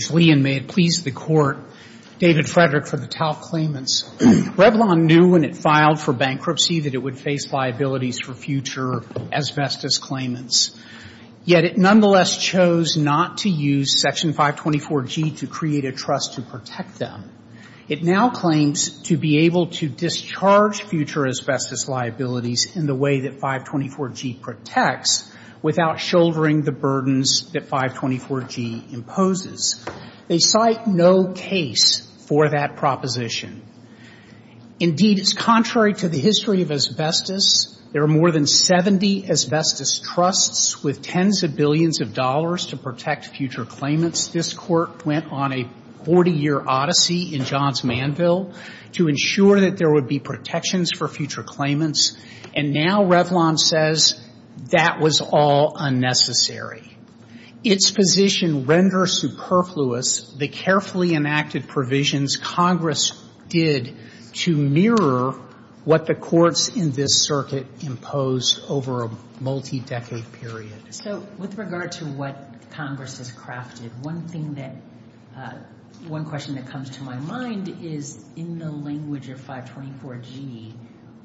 The court, David Frederick, for the Taub claimants. Revlon knew when it filed for bankruptcy that it would face liabilities for future asbestos claimants. Yet it nonetheless chose not to use Section 524G to create a trust to protect them. It now claims to be able to discharge future asbestos liabilities in the way that 524G protects without shouldering the burdens that 524G imposes. They cite no case for that proposition. Indeed, it's contrary to the history of asbestos. There are more than 70 asbestos trusts with tens of billions of dollars to protect future claimants. This court went on a 40-year odyssey in Johns Manville to ensure that there would be protections for future claimants, and now Revlon says that was all unnecessary. Its position renders superfluous the carefully enacted provisions Congress did to mirror what the courts in this circuit imposed over a multi-decade period. So with regard to what Congress has crafted, one thing that, one question that comes to my mind is in the language of 524G,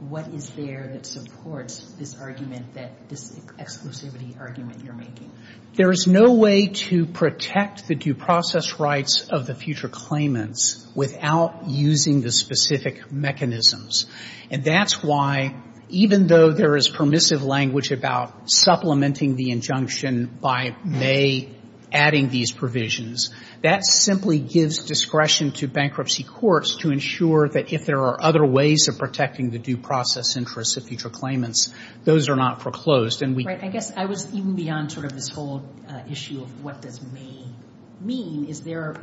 what is there that supports this argument that, this exclusivity argument you're making? There is no way to protect the due process rights of the future claimants without using the specific mechanisms. And that's why, even though there is permissive language about supplementing the injunction by May adding these provisions, that simply gives discretion to bankruptcy courts to ensure that if there are other ways of protecting the due process interests of future claimants, those are not foreclosed. And we can't do that. I guess I was even beyond sort of this whole issue of what does May mean. Is there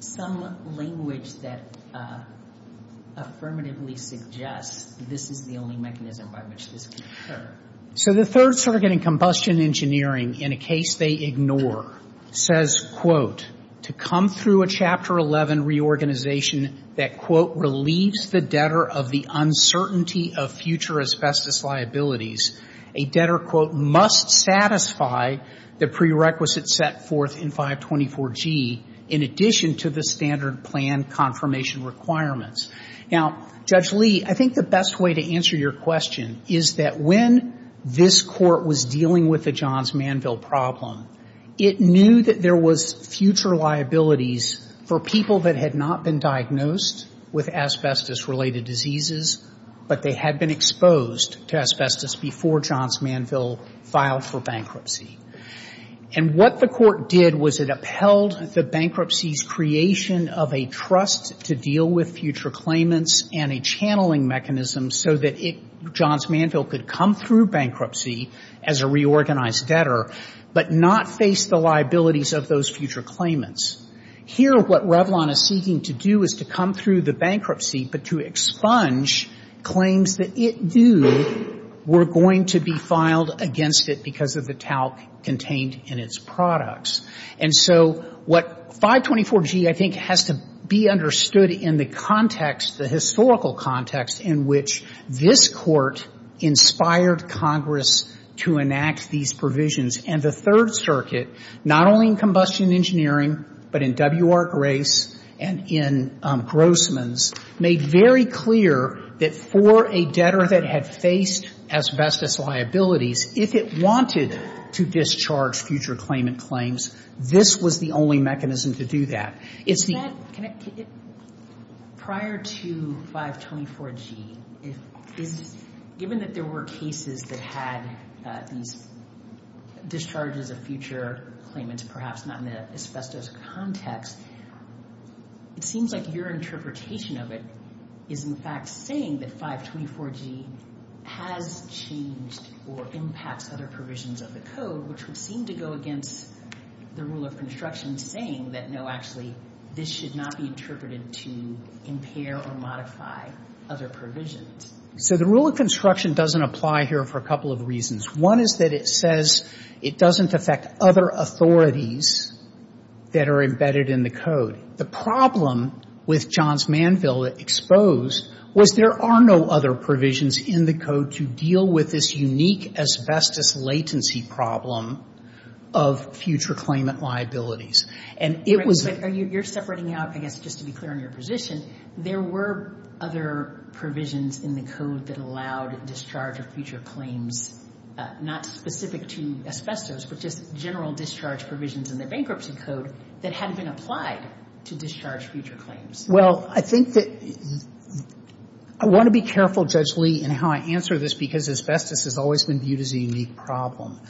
some language that affirmatively suggests this is the only mechanism by which this can occur? So the Third Circuit in Combustion Engineering, in a case they ignore, says, quote, to come through a Chapter 11 reorganization that, quote, relieves the debtor of the uncertainty of future asbestos liabilities, a debtor, quote, must satisfy the prerequisite set forth in 524G in addition to the standard plan confirmation requirements. Now, Judge Lee, I think the best way to answer your question is that when this court was dealing with the Johns Manville problem, it knew that there was future liabilities for people that had not been diagnosed with asbestos-related diseases, but they had been exposed to asbestos before Johns Manville filed for bankruptcy. And what the court did was it upheld the bankruptcy's creation of a trust to deal with future claimants and a channeling mechanism so that it, Johns Manville, could come through bankruptcy as a reorganized debtor, but not face the liabilities of those future claimants. Here, what Revlon is seeking to do is to come through the bankruptcy, but to expunge claims that it knew were going to be filed against it because of the talc contained in its products. And so what 524G, I think, has to be understood in the context, the historical context in which this court inspired Congress to enact these provisions. And the Third Circuit, not only in Combustion Engineering, but in W.R. Grace and in Grossman's, made very clear that for a debtor that had faced asbestos liabilities, if it wanted to discharge future claimant claims, this was the only mechanism to do that. Prior to 524G, given that there were cases that had these discharges of future claimants, perhaps not in the asbestos context, it seems like your interpretation of it is, in fact, saying that 524G has changed or impacts other provisions of the code, which would seem to go against the rule of construction saying that, no, actually, this should not be interpreted to impair or modify other provisions. So the rule of construction doesn't apply here for a couple of reasons. One is that it says it doesn't affect other authorities that are embedded in the The problem with Johns Manville exposed was there are no other provisions in the code to deal with this unique asbestos latency problem of future claimant liabilities. And it was the... But you're separating out, I guess, just to be clear on your position, there were other provisions in the code that allowed discharge of future claims, not specific to asbestos, but just general discharge provisions in the bankruptcy code that hadn't been applied to discharge future claims. Well, I think that... I want to be careful, Judge Lee, in how I answer this because asbestos has always been viewed as a unique problem.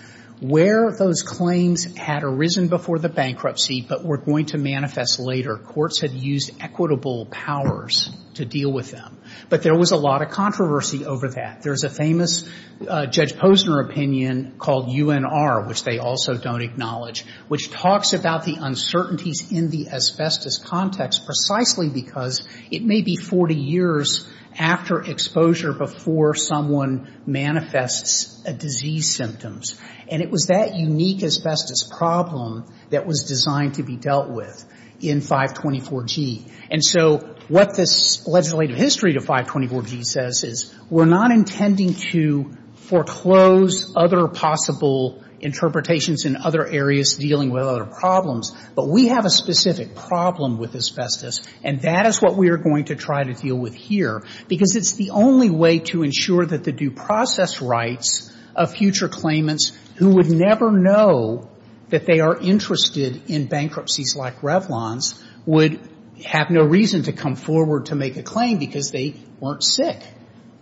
Where those claims had arisen before the bankruptcy but were going to manifest later, courts had used equitable powers to deal with them. But there was a lot of controversy over that. There's a famous Judge Posner opinion called UNR, which they also don't acknowledge, which talks about the uncertainties in the asbestos context precisely because it may be 40 years after exposure before someone manifests disease symptoms. And it was that unique asbestos problem that was designed to be dealt with in 524G. And so what this legislative history to 524G says is we're not intending to foreclose other possible interpretations in other areas dealing with other problems, but we have a specific problem with asbestos. And that is what we are going to try to deal with here because it's the only way to ensure that the due process rights of future claimants who would never know that they are interested in bankruptcies like Revlon's would have no reason to come forward to make a claim because they weren't sick.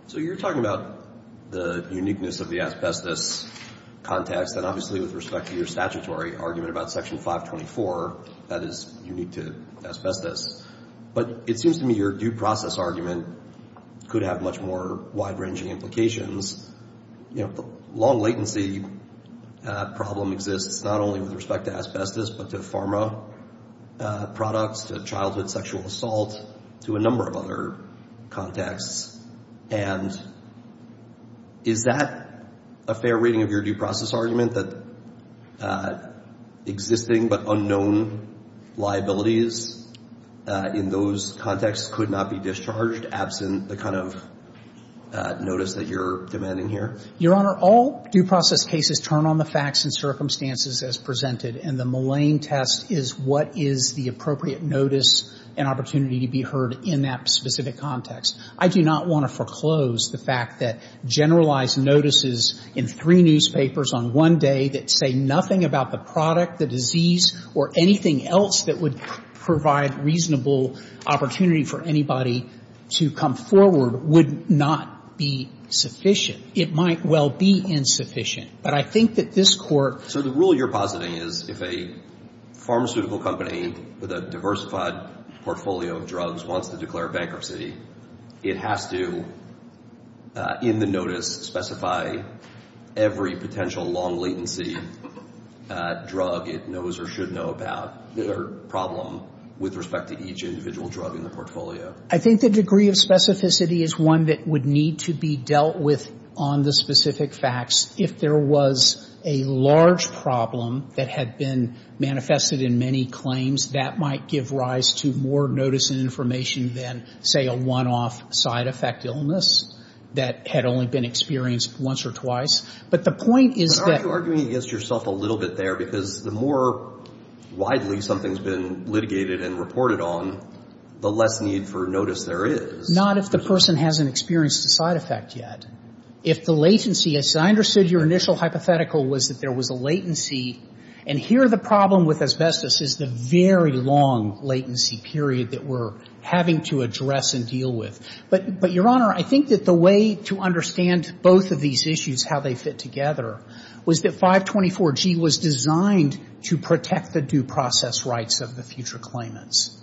So you're talking about the uniqueness of the asbestos context, and obviously with respect to your statutory argument about Section 524, that is unique to asbestos. But it seems to me your due process argument could have much more wide-ranging implications. You know, the long latency problem exists not only with respect to asbestos, but to pharma products, to childhood sexual assault, to a number of other contexts. And is that a fair reading of your due process argument, that existing but unknown liabilities in those contexts could not be discharged absent the kind of notice that you're demanding here? Your Honor, all due process cases turn on the facts and circumstances as presented, and the Moline test is what is the appropriate notice and opportunity to be heard in that specific context. I do not want to foreclose the fact that generalized notices in three newspapers on one day that say nothing about the product, the disease, or anything else that would provide reasonable opportunity for anybody to come forward would not be sufficient. It might well be insufficient. But I think that this Court So the rule you're positing is if a pharmaceutical company with a diversified portfolio of drugs wants to declare bankruptcy, it has to, in the notice, specify every potential long latency drug it knows or should know about or problem with respect to each individual drug in the portfolio. I think the degree of specificity is one that would need to be dealt with on the specific facts. If there was a large problem that had been manifested in many claims, that might give rise to more notice and information than, say, a one-off side effect illness that had only been experienced once or twice. But the point is that But aren't you arguing against yourself a little bit there? Because the more widely something's been litigated and reported on, the less need for notice there is. Not if the person hasn't experienced a side effect yet. If the latency is I understood your initial hypothetical was that there was a latency and here the problem with asbestos is the very long latency period that we're having to address and deal with. But, Your Honor, I think that the way to understand both of these issues, how they fit together, was that 524G was designed to protect the due process rights of the future claimants.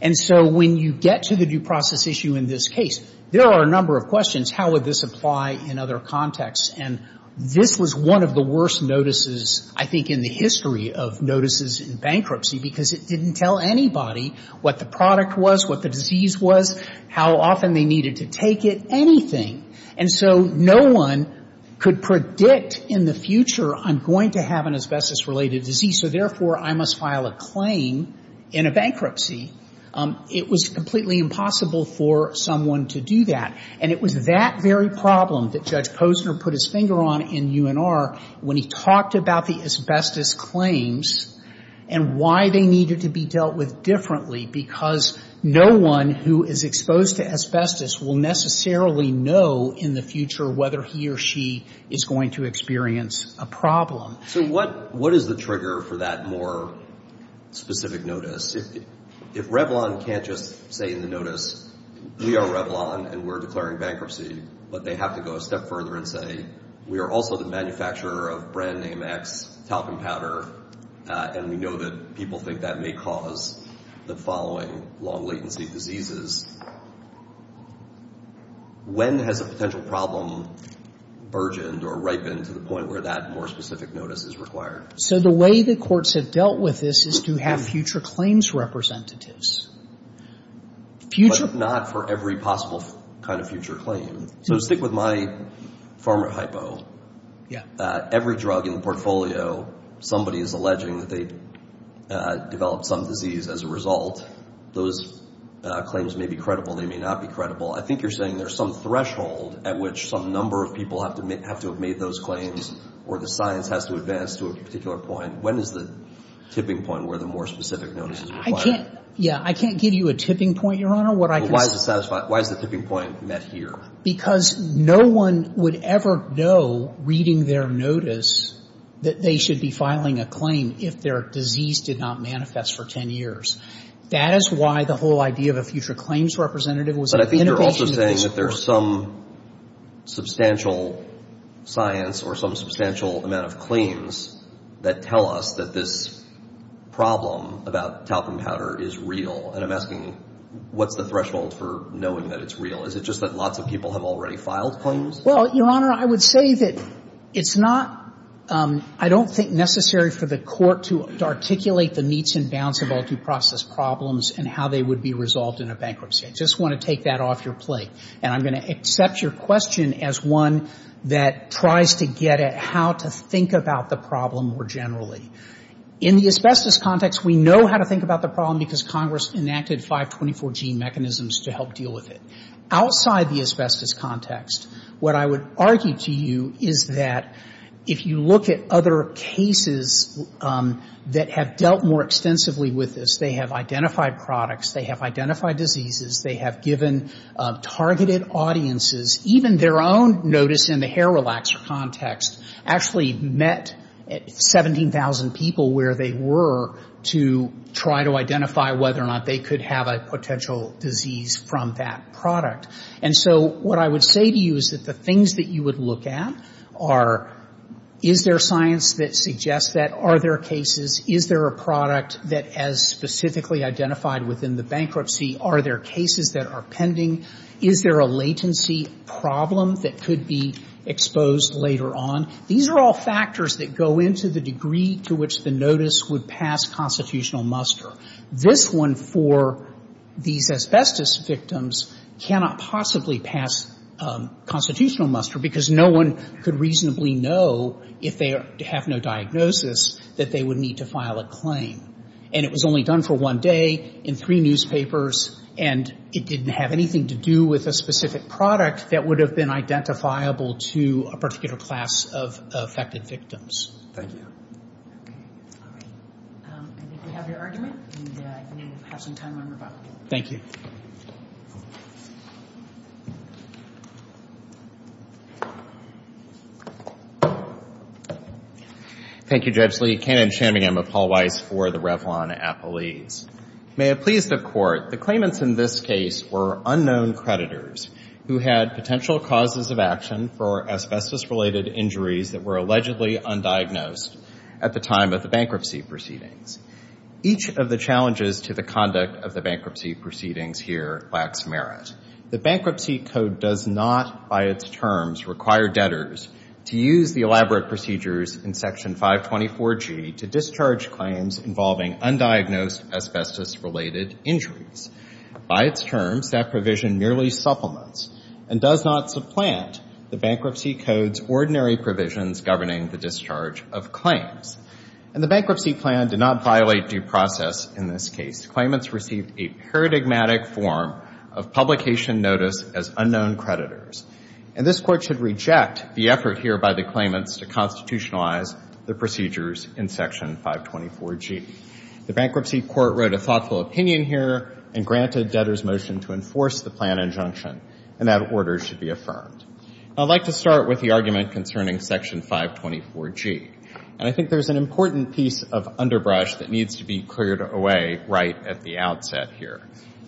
And so when you get to the due process issue in this case, there are a number of questions. How would this apply in other contexts? And this was one of the worst notices, I think, in the history of notices in bankruptcy because it didn't tell anybody what the product was, what the disease was, how often they needed to take it, anything. And so no one could predict in the future I'm going to have an asbestos-related disease, so therefore I must file a claim in a bankruptcy. It was completely impossible for someone to do that. And it was that very problem that Judge Posner put his finger on in UNR when he talked about the asbestos claims and why they needed to be dealt with differently because no one who is exposed to asbestos will necessarily know in the future whether he or she is going to experience a problem. So what is the trigger for that more specific notice? If Revlon can't just say in the notice, we are Revlon and we're declaring bankruptcy, but they have to go a step further and say, we are also the manufacturer of brand name X talcum powder and we know that people think that may cause the following long latency diseases, when has a potential problem burgeoned or ripened to the point where this is required? So the way the courts have dealt with this is to have future claims representatives. But not for every possible kind of future claim. So stick with my pharma hypo. Every drug in the portfolio, somebody is alleging that they developed some disease as a result. Those claims may be credible, they may not be credible. I think you're saying there's some threshold at which some number of people have to have made those claims or the science has to advance to a particular point. When is the tipping point where the more specific notice is required? I can't give you a tipping point, Your Honor. Why is the tipping point met here? Because no one would ever know, reading their notice, that they should be filing a claim if their disease did not manifest for 10 years. That is why the whole idea of a future claims representative was an innovation I'm also saying that there's some substantial science or some substantial amount of claims that tell us that this problem about talcum powder is real. And I'm asking, what's the threshold for knowing that it's real? Is it just that lots of people have already filed claims? Well, Your Honor, I would say that it's not, I don't think necessary for the court to articulate the meets and bounds of all due process problems and how they would be resolved in a bankruptcy. I just want to take that off your plate. And I'm going to accept your question as one that tries to get at how to think about the problem more generally. In the asbestos context, we know how to think about the problem because Congress enacted 524G mechanisms to help deal with it. Outside the asbestos context, what I would argue to you is that if you look at other cases that have dealt more extensively with this, they have identified products, they have identified diseases, they have given targeted audiences, even their own notice in the hair relaxer context, actually met 17,000 people where they were to try to identify whether or not they could have a potential disease from that product. And so what I would say to you is that the things that you would look at are, is there science that suggests that? Are there cases? Is there a product that has specifically identified within the bankruptcy? Are there cases that are pending? Is there a latency problem that could be exposed later on? These are all factors that go into the degree to which the notice would pass constitutional muster. This one for these asbestos victims cannot possibly pass constitutional muster because no one could reasonably know, if they have no diagnosis, that they would need to file a claim. And it was only done for one day, in three newspapers, and it didn't have anything to do with a specific product that would have been identifiable to a particular class of affected victims. Thank you. Okay. All right. I think we have your argument, and you have some time on your bucket. Thank you. Thank you, Judge Lee. I'm David Cannon-Chambingham of Paul Weiss for the Revlon Appellees. May it please the Court, the claimants in this case were unknown creditors who had potential causes of action for asbestos-related injuries that were allegedly undiagnosed at the time of the bankruptcy proceedings. Each of the challenges to the conduct of the bankruptcy proceedings here lacks merit. The Bankruptcy Code does not, by its terms, require debtors to use the elaborate procedures in Section 524G to discharge claims involving undiagnosed asbestos-related injuries. By its terms, that provision merely supplements and does not supplant the Bankruptcy Code's ordinary provisions governing the discharge of claims. And the Bankruptcy Plan did not violate due process in this case. Claimants received a paradigmatic form of publication notice as unknown creditors. And this Court should reject the effort here by the claimants to constitutionalize the procedures in Section 524G. The Bankruptcy Court wrote a thoughtful opinion here and granted debtors' motion to enforce the plan injunction, and that order should be affirmed. I'd like to start with the argument concerning Section 524G. And I think there's an important piece of underbrush that needs to be cleared away right at the outset here.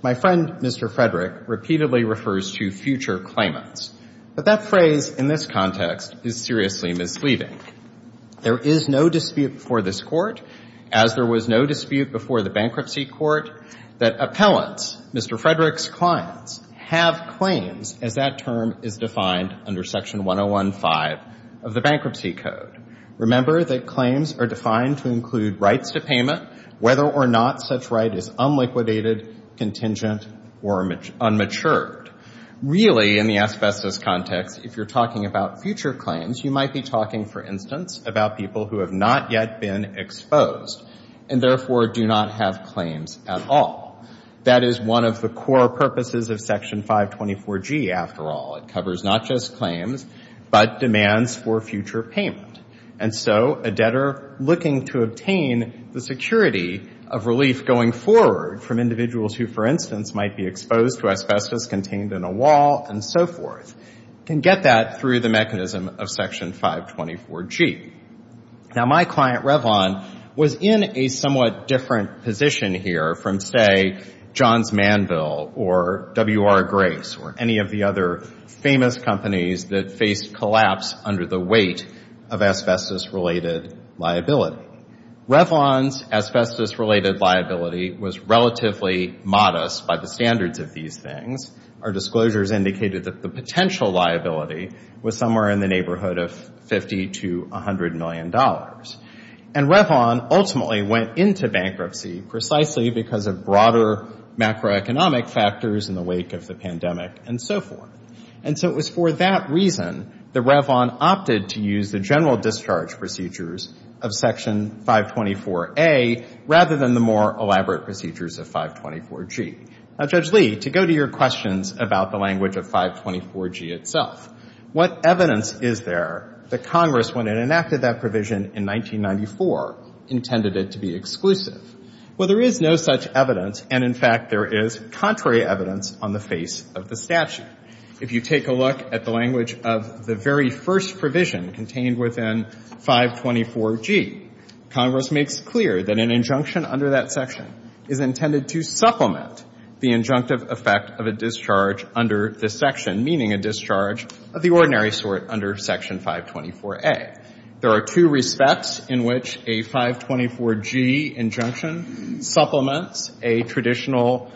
My friend, Mr. Frederick, repeatedly refers to future claimants. But that phrase in this context is seriously misleading. There is no dispute before this Court, as there was no dispute before the Bankruptcy Court, that appellants, Mr. Frederick's clients, have claims as that term is defined under Section 1015 of the Bankruptcy Code. Remember that claims are defined to include rights to payment, whether or not such right is unliquidated, contingent, or unmatured. Really, in the asbestos context, if you're talking about future claims, you might be talking, for instance, about people who have not yet been exposed, and therefore do not have claims at all. That is one of the core purposes of Section 524G, after all. It covers not just claims, but demands for future payment. And so, a debtor looking to obtain the security of relief going forward from individuals who, for instance, might be exposed to asbestos contained in a wall and so forth, can get that through the mechanism of Section 524G. Now, my client, Revlon, was in a somewhat different position here from, say, Johns Manville or W.R. Grace or any of the other famous companies that faced a collapse under the weight of asbestos-related liability. Revlon's asbestos-related liability was relatively modest by the standards of these things. Our disclosures indicated that the potential liability was somewhere in the neighborhood of $50 to $100 million. And Revlon ultimately went into bankruptcy precisely because of broader macroeconomic factors in the wake of the pandemic and so forth. And so it was for that reason that Revlon opted to use the general discharge procedures of Section 524A rather than the more elaborate procedures of 524G. Now, Judge Lee, to go to your questions about the language of 524G itself, what evidence is there that Congress, when it enacted that provision in 1994, intended it to be exclusive? Well, there is no such evidence, and in fact, there is contrary evidence on the face of the statute. If you take a look at the language of the very first provision contained within 524G, Congress makes clear that an injunction under that section is intended to supplement the injunctive effect of a discharge under this section, meaning a discharge of the ordinary sort under Section 524A. There are two respects in which a 524G injunction supplements a traditional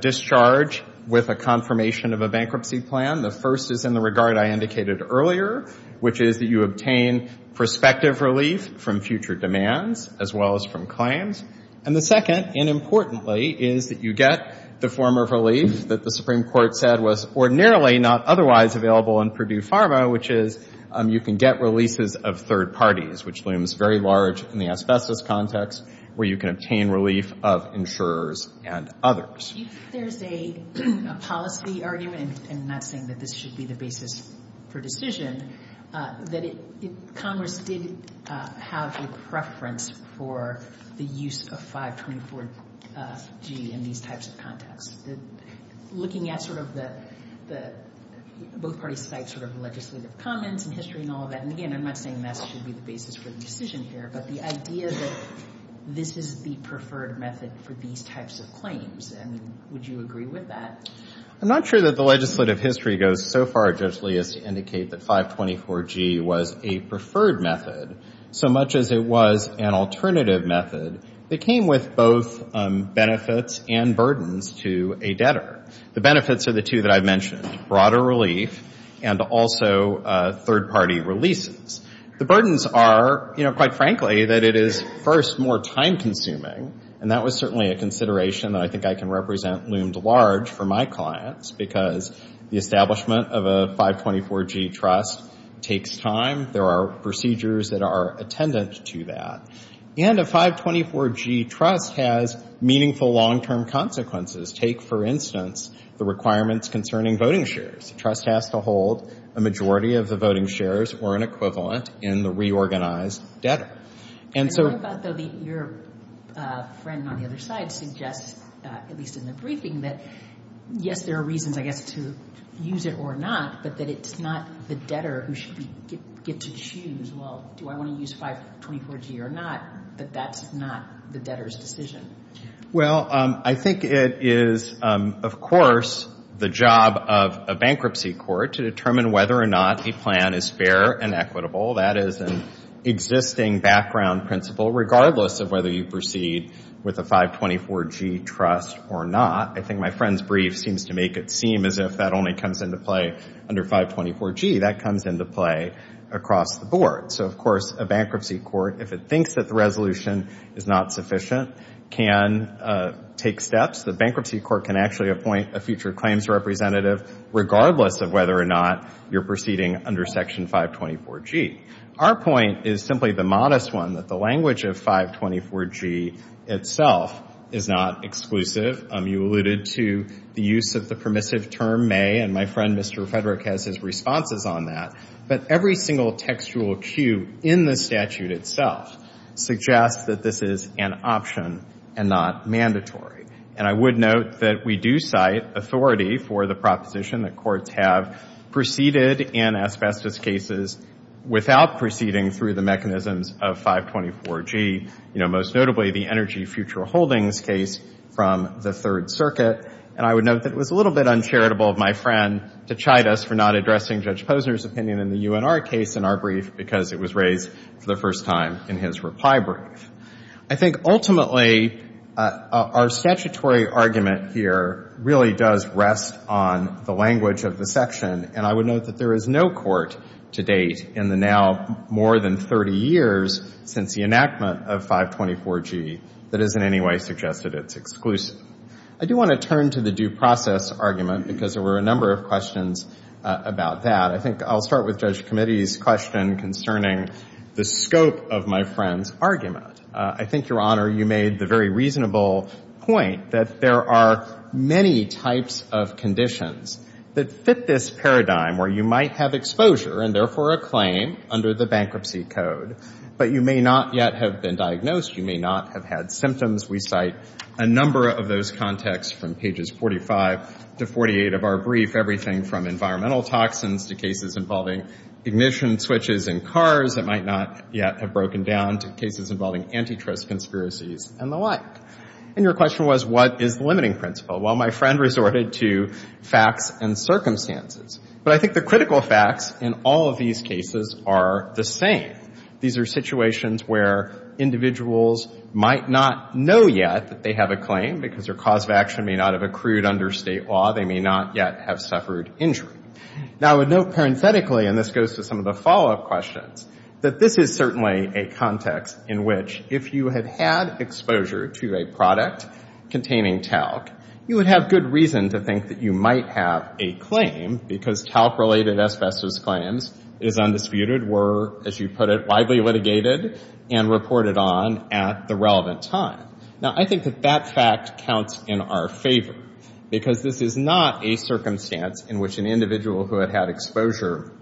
discharge with a confirmation of a bankruptcy plan. The first is in the regard I indicated earlier, which is that you obtain prospective relief from future demands as well as from claims. And the second, and importantly, is that you get the form of relief that the Supreme Court said was ordinarily not otherwise available in Purdue Pharma, which is you can get releases of third parties, which looms very large in the others. There is a policy argument, and I'm not saying that this should be the basis for decision, that Congress did have a preference for the use of 524G in these types of contexts. Looking at sort of the both parties cite sort of legislative comments and history and all of that, and again, I'm not saying that should be the basis for the decision here. But the idea that this is the preferred method for these types of claims. I mean, would you agree with that? I'm not sure that the legislative history goes so far, Judge Lee, as to indicate that 524G was a preferred method so much as it was an alternative method that came with both benefits and burdens to a debtor. The benefits are the two that I've mentioned, broader relief and also third party releases. The burdens are, you know, quite frankly that it is first more time consuming, and that was certainly a consideration that I think I can represent loomed large for my clients because the establishment of a 524G trust takes time. There are procedures that are attendant to that. And a 524G trust has meaningful long-term consequences. Take, for instance, the requirements concerning voting shares. A trust has to hold a majority of the voting shares or an equivalent in the reorganized debtor. And so... Your friend on the other side suggests, at least in the briefing, that yes, there are reasons, I guess, to use it or not, but that it's not the debtor who should get to choose, well, do I want to use 524G or not? But that's not the debtor's decision. Well, I think it is, of course, the job of a bankruptcy court to determine whether or not a plan is fair and equitable. That is an existing background principle regardless of whether you proceed with a 524G trust or not. I think my friend's brief seems to make it seem as if that only comes into play under 524G. That comes into play across the board. So, of course, a bankruptcy court, if it thinks that the resolution is not sufficient, can take steps. The bankruptcy court can actually appoint a future claims representative regardless of whether or not you're proceeding under Section 524G. Our point is simply the modest one, that the language of 524G itself is not exclusive. You alluded to the use of the permissive term may, and my friend, Mr. Frederick, has his responses on that, but every single textual cue in the statute itself suggests that this is an option and not mandatory. And I would note that we do cite authority for the proposition that courts have proceeded in asbestos cases without proceeding through the mechanisms of 524G, most notably the energy future holdings case from the Third Circuit. And I would note that it was a little bit uncharitable of my friend to chide us for not addressing Judge Posner's opinion in the UNR case in our first time in his reply brief. I think ultimately our statutory argument here really does rest on the language of the section, and I would note that there is no court to date in the now more than 30 years since the enactment of 524G that has in any way suggested it's exclusive. I do want to turn to the due process argument because there were a number of questions about that. I think I'll start with Judge Comittee's question concerning the scope of my friend's argument. I think, Your Honor, you made the very reasonable point that there are many types of conditions that fit this paradigm where you might have exposure and therefore a claim under the bankruptcy code, but you may not yet have been diagnosed. You may not have had symptoms. We cite a number of those contexts from pages 45 to 48 of our brief, everything from environmental toxins to cases involving ignition switches in cars that might not yet have broken down to cases involving antitrust conspiracies and the like. And your question was, what is the limiting principle? Well, my friend resorted to facts and circumstances. But I think the critical facts in all of these cases are the same. These are situations where individuals might not know yet that they have a claim because their cause of action may not have accrued under state law. They may not yet have suffered injury. Now, I would note parenthetically, and this goes to some of the follow-up questions, that this is certainly a context in which if you had had exposure to a product containing talc, you would have good reason to think that you might have a claim because talc-related asbestos claims is undisputed, were, as you put it, widely litigated and reported on at the relevant time. Now, I think that that fact counts in our favor because this is not a circumstance in which an individual who had had exposure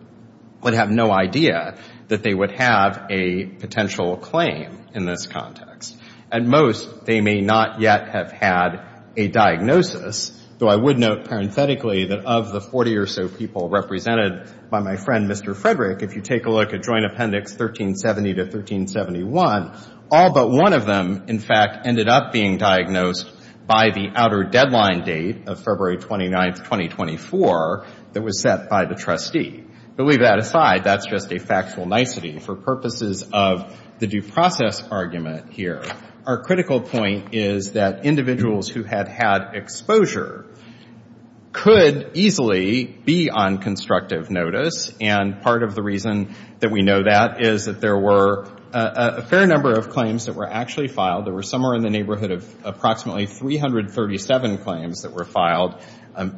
would have no idea that they would have a potential claim in this context. At most, they may not yet have had a diagnosis, though I would note parenthetically that of the 40 or so people represented by my friend, Mr. Frederick, if you take a look at Joint Appendix 1370 to 1371, all but one of them, in fact, ended up being diagnosed by the outer deadline date of February 29th, 2024 that was set by the trustee. But leave that aside. That's just a factual nicety for purposes of the due process argument here. Our critical point is that individuals who had had exposure could easily be on constructive notice, and part of the reason that we know that is that there were a fair number of claims that were actually filed. There were somewhere in the neighborhood of approximately 337 claims that were filed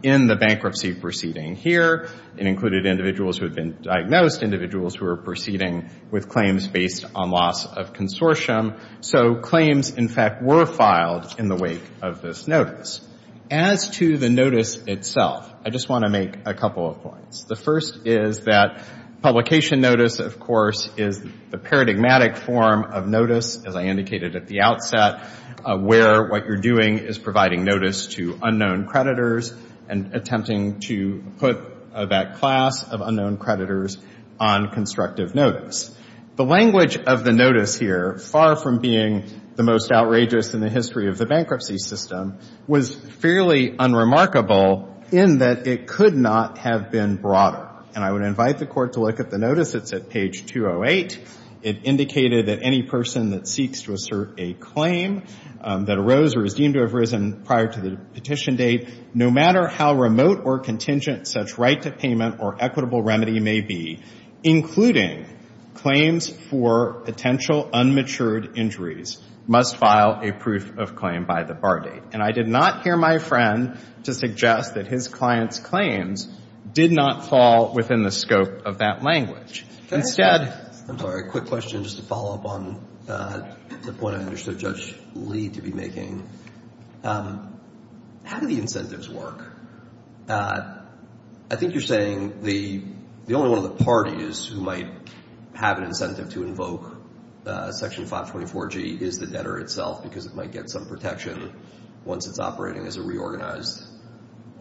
in the bankruptcy proceeding here. It included individuals who had been diagnosed, individuals who were proceeding with claims based on loss of consortium. So claims, in fact, were filed in the wake of this notice. As to the notice itself, I just want to make a couple of points. The first is that publication notice, of course, is the paradigmatic form of notice, as I indicated at the outset, where what you're doing is providing notice to unknown creditors and attempting to put that class of unknown creditors on constructive notice. The language of the notice here, far from being the most outrageous in the history of the bankruptcy system, was fairly unremarkable in that it could not have been broader, and I would invite the court to look at the notice. It's at page 208. It indicated that any person that seeks to assert a claim that arose or is deemed to have arisen prior to the petition date, no matter how remote or contingent such right to payment or equitable remedy may be, including claims for potential unmatured injuries, must file a proof of claim by the date, and I did not hear my friend to suggest that his client's claims did not fall within the scope of that language. Instead — I'm sorry. A quick question just to follow up on the point I understood Judge Lee to be making. How do the incentives work? I think you're saying the only one of the parties who might have an incentive to invoke Section 524G is the debtor itself, because it might get some protection once it's operating as a reorganized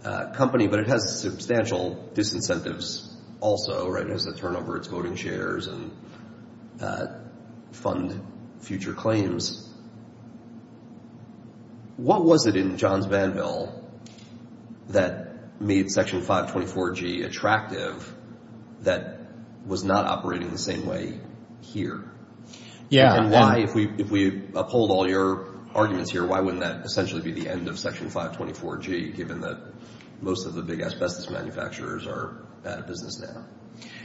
company, but it has substantial disincentives also, right? It has to turn over its voting shares and fund future claims. What was it in John's ban bill that made Section 524G attractive that was not operating the same way here? Yeah. And why, if we uphold all your arguments here, why wouldn't that essentially be the end of Section 524G, given that most of the big asbestos manufacturers are out of business now?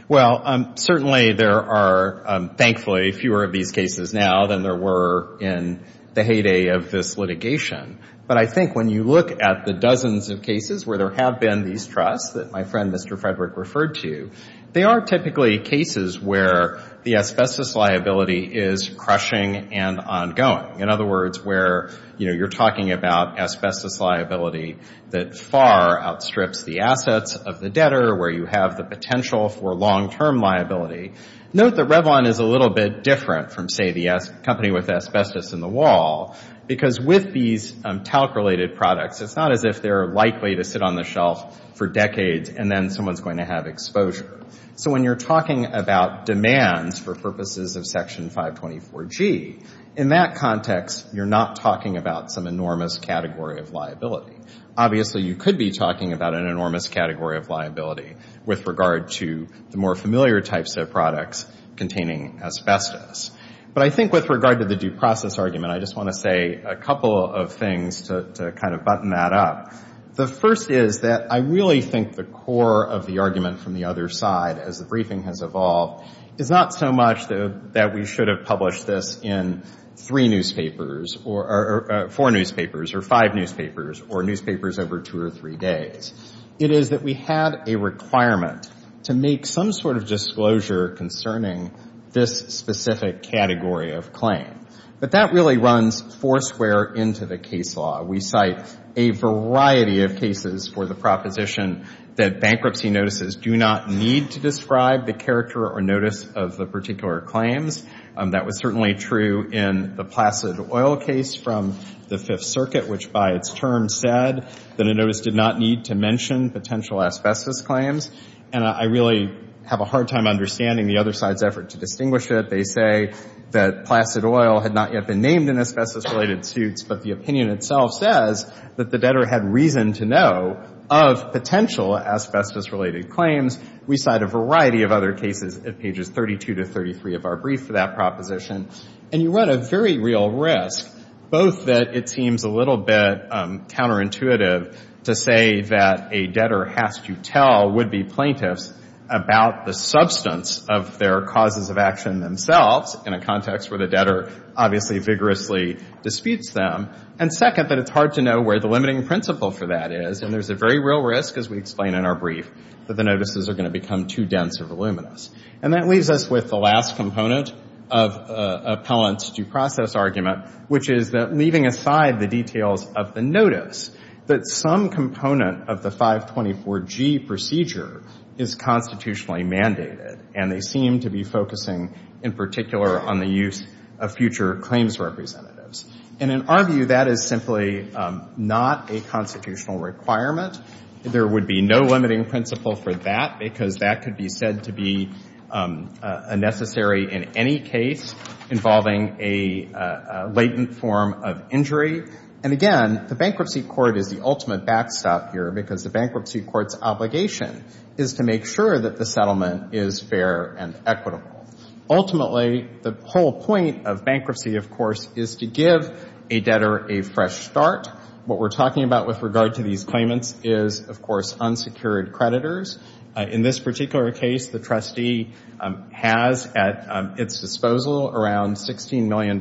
Well, certainly there are, thankfully, fewer of these cases now than there were in the heyday of this litigation. But I think when you look at the dozens of cases where there have been these requests that my friend, Mr. Frederick, referred to, they are typically cases where the asbestos liability is crushing and ongoing. In other words, where you're talking about asbestos liability that far outstrips the assets of the debtor, where you have the potential for long-term liability. Note that Revlon is a little bit different from, say, the company with asbestos in the wall, because with these talc-related products, it's not as if they're likely to sit on the shelf for decades and then someone's going to have exposure. So when you're talking about demands for purposes of Section 524G, in that context, you're not talking about some enormous category of liability. Obviously, you could be talking about an enormous category of liability with regard to the more familiar types of products containing asbestos. But I think with regard to the due process argument, I just want to say a couple of things to kind of button that up. The first is that I really think the core of the argument from the other side, as the briefing has evolved, is not so much that we should have published this in three newspapers or four newspapers or five newspapers or newspapers over two or three days. It is that we had a requirement to make some sort of disclosure concerning this specific category of claim. But that really runs foursquare into the case law. We cite a variety of cases for the proposition that bankruptcy notices do not need to describe the character or notice of the particular claims. That was certainly true in the Placid Oil case from the Fifth Circuit, which by its term said that a notice did not need to mention potential asbestos claims. And I really have a hard time understanding the other side's effort to distinguish it. They say that Placid Oil had not yet been named in asbestos-related suits, but the opinion itself says that the debtor had reason to know of potential asbestos-related claims. We cite a variety of other cases at pages 32 to 33 of our brief for that proposition. And you run a very real risk, both that it seems a little bit counterintuitive to say that a debtor has to tell would-be plaintiffs about the substance of their causes of action themselves in a context where the debtor obviously vigorously disputes them, and second, that it's hard to know where the limiting principle for that is. And there's a very real risk, as we explain in our brief, that the notices are going to become too dense or voluminous. And that leaves us with the last component of Appellant's due process argument, which is that leaving aside the details of the notice, that some component of the 524G procedure is constitutionally mandated. And they seem to be focusing in particular on the use of future claims representatives. And in our view, that is simply not a constitutional requirement. There would be no limiting principle for that, because that could be said to be unnecessary in any case involving a latent form of injury. And again, the Bankruptcy Court is the ultimate backstop here, because the Bankruptcy Court's obligation is to make sure that the settlement is fair and equitable. Ultimately, the whole point of bankruptcy, of course, is to give a debtor a fresh start. What we're talking about with regard to these claimants is, of course, unsecured creditors. In this particular case, the trustee has at its disposal around $16 million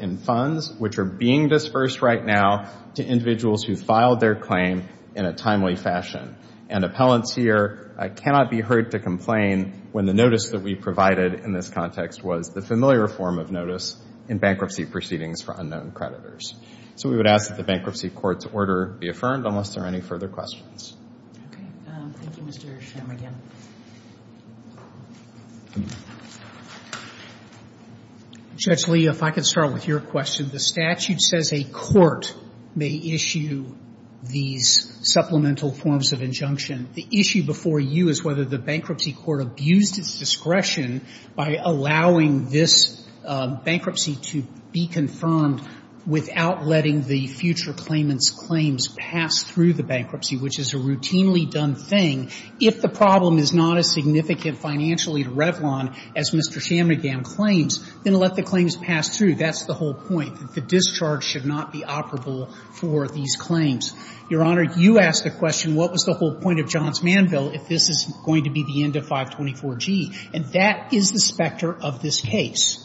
in funds, which are being disbursed right now to individuals who filed their claim in a timely fashion. And appellants here cannot be heard to complain when the notice that we provided in this context was the familiar form of notice in bankruptcy proceedings for unknown creditors. So we would ask that the Bankruptcy Court's order be affirmed, unless there are any further questions. Okay. Thank you, Mr. Shem again. Judge Lee, if I could start with your question. The statute says a court may issue these supplemental forms of injunction. The issue before you is whether the Bankruptcy Court abused its discretion by allowing this bankruptcy to be confirmed without letting the future claimant's claims pass through the bankruptcy, which is a routinely done thing. If the problem is not as significant financially to Revlon as Mr. Shem again claims, then let the claims pass through. That's the whole point, that the discharge should not be operable for these claims. Your Honor, you asked the question, what was the whole point of John's manville if this is going to be the end of 524G? And that is the specter of this case.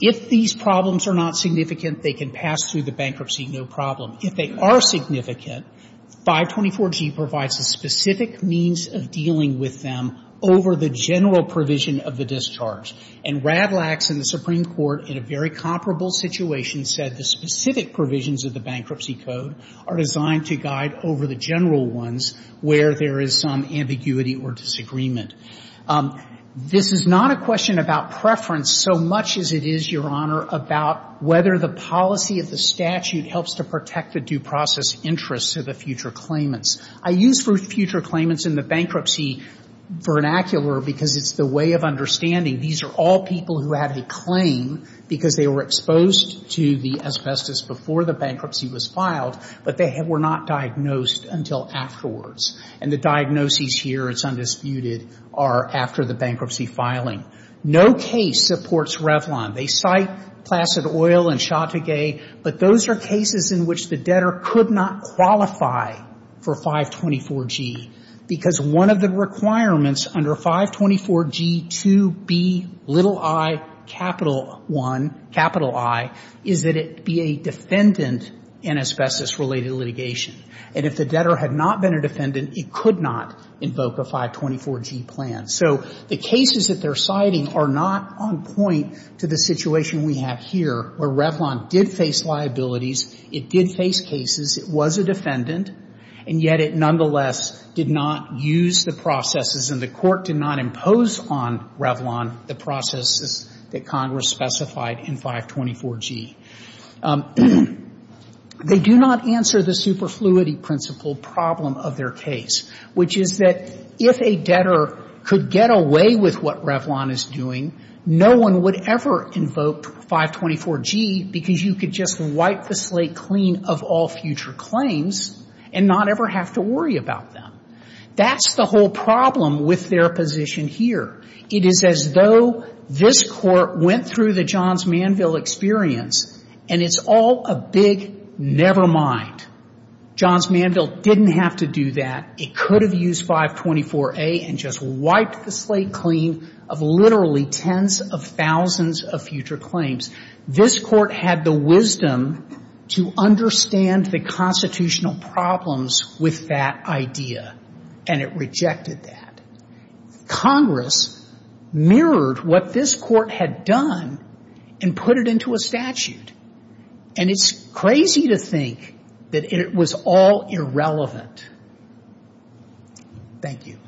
If these problems are not significant, they can pass through the bankruptcy no problem. If they are significant, 524G provides a specific means of dealing with them over the general provision of the discharge. And Radlax in the Supreme Court, in a very comparable situation, said the specific provisions of the Bankruptcy Code are designed to guide over the general ones where there is some ambiguity or disagreement. This is not a question about preference so much as it is, Your Honor, about whether the policy of the statute helps to protect the due process interests of the future claimants. I use future claimants in the bankruptcy vernacular because it's the way of understanding these are all people who had a claim because they were exposed to the asbestos before the bankruptcy was filed, but they were not diagnosed until afterwards. And the diagnoses here, it's undisputed, are after the bankruptcy filing. No case supports Revlon. They cite Placid Oil and Chautauquais, but those are cases in which the debtor could not qualify for 524G because one of the requirements under 524G2BiI is that it be a defendant in asbestos-related litigation. And if the debtor had not been a defendant, it could not invoke a 524G plan. So the cases that they're citing are not on point to the situation we have here where Revlon did face liabilities, it did face cases, it was a defendant, and yet it nonetheless did not use the processes and the court did not impose on Revlon the processes that Congress specified in 524G. They do not answer the superfluity principle problem of their case, which is that if a debtor could get away with what Revlon is doing, no one would ever invoke 524G because you could just wipe the slate clean of all future claims and not ever have to worry about them. That's the whole problem with their position here. It is as though this Court went through the Johns Manville experience and it's all a big never mind. Johns Manville didn't have to do that. It could have used 524A and just wiped the slate clean of literally tens of thousands of future claims. This Court had the wisdom to understand the constitutional problems with that idea and it rejected that. Congress mirrored what this Court had done and put it into a statute. And it's crazy to think that it was all irrelevant. Thank you.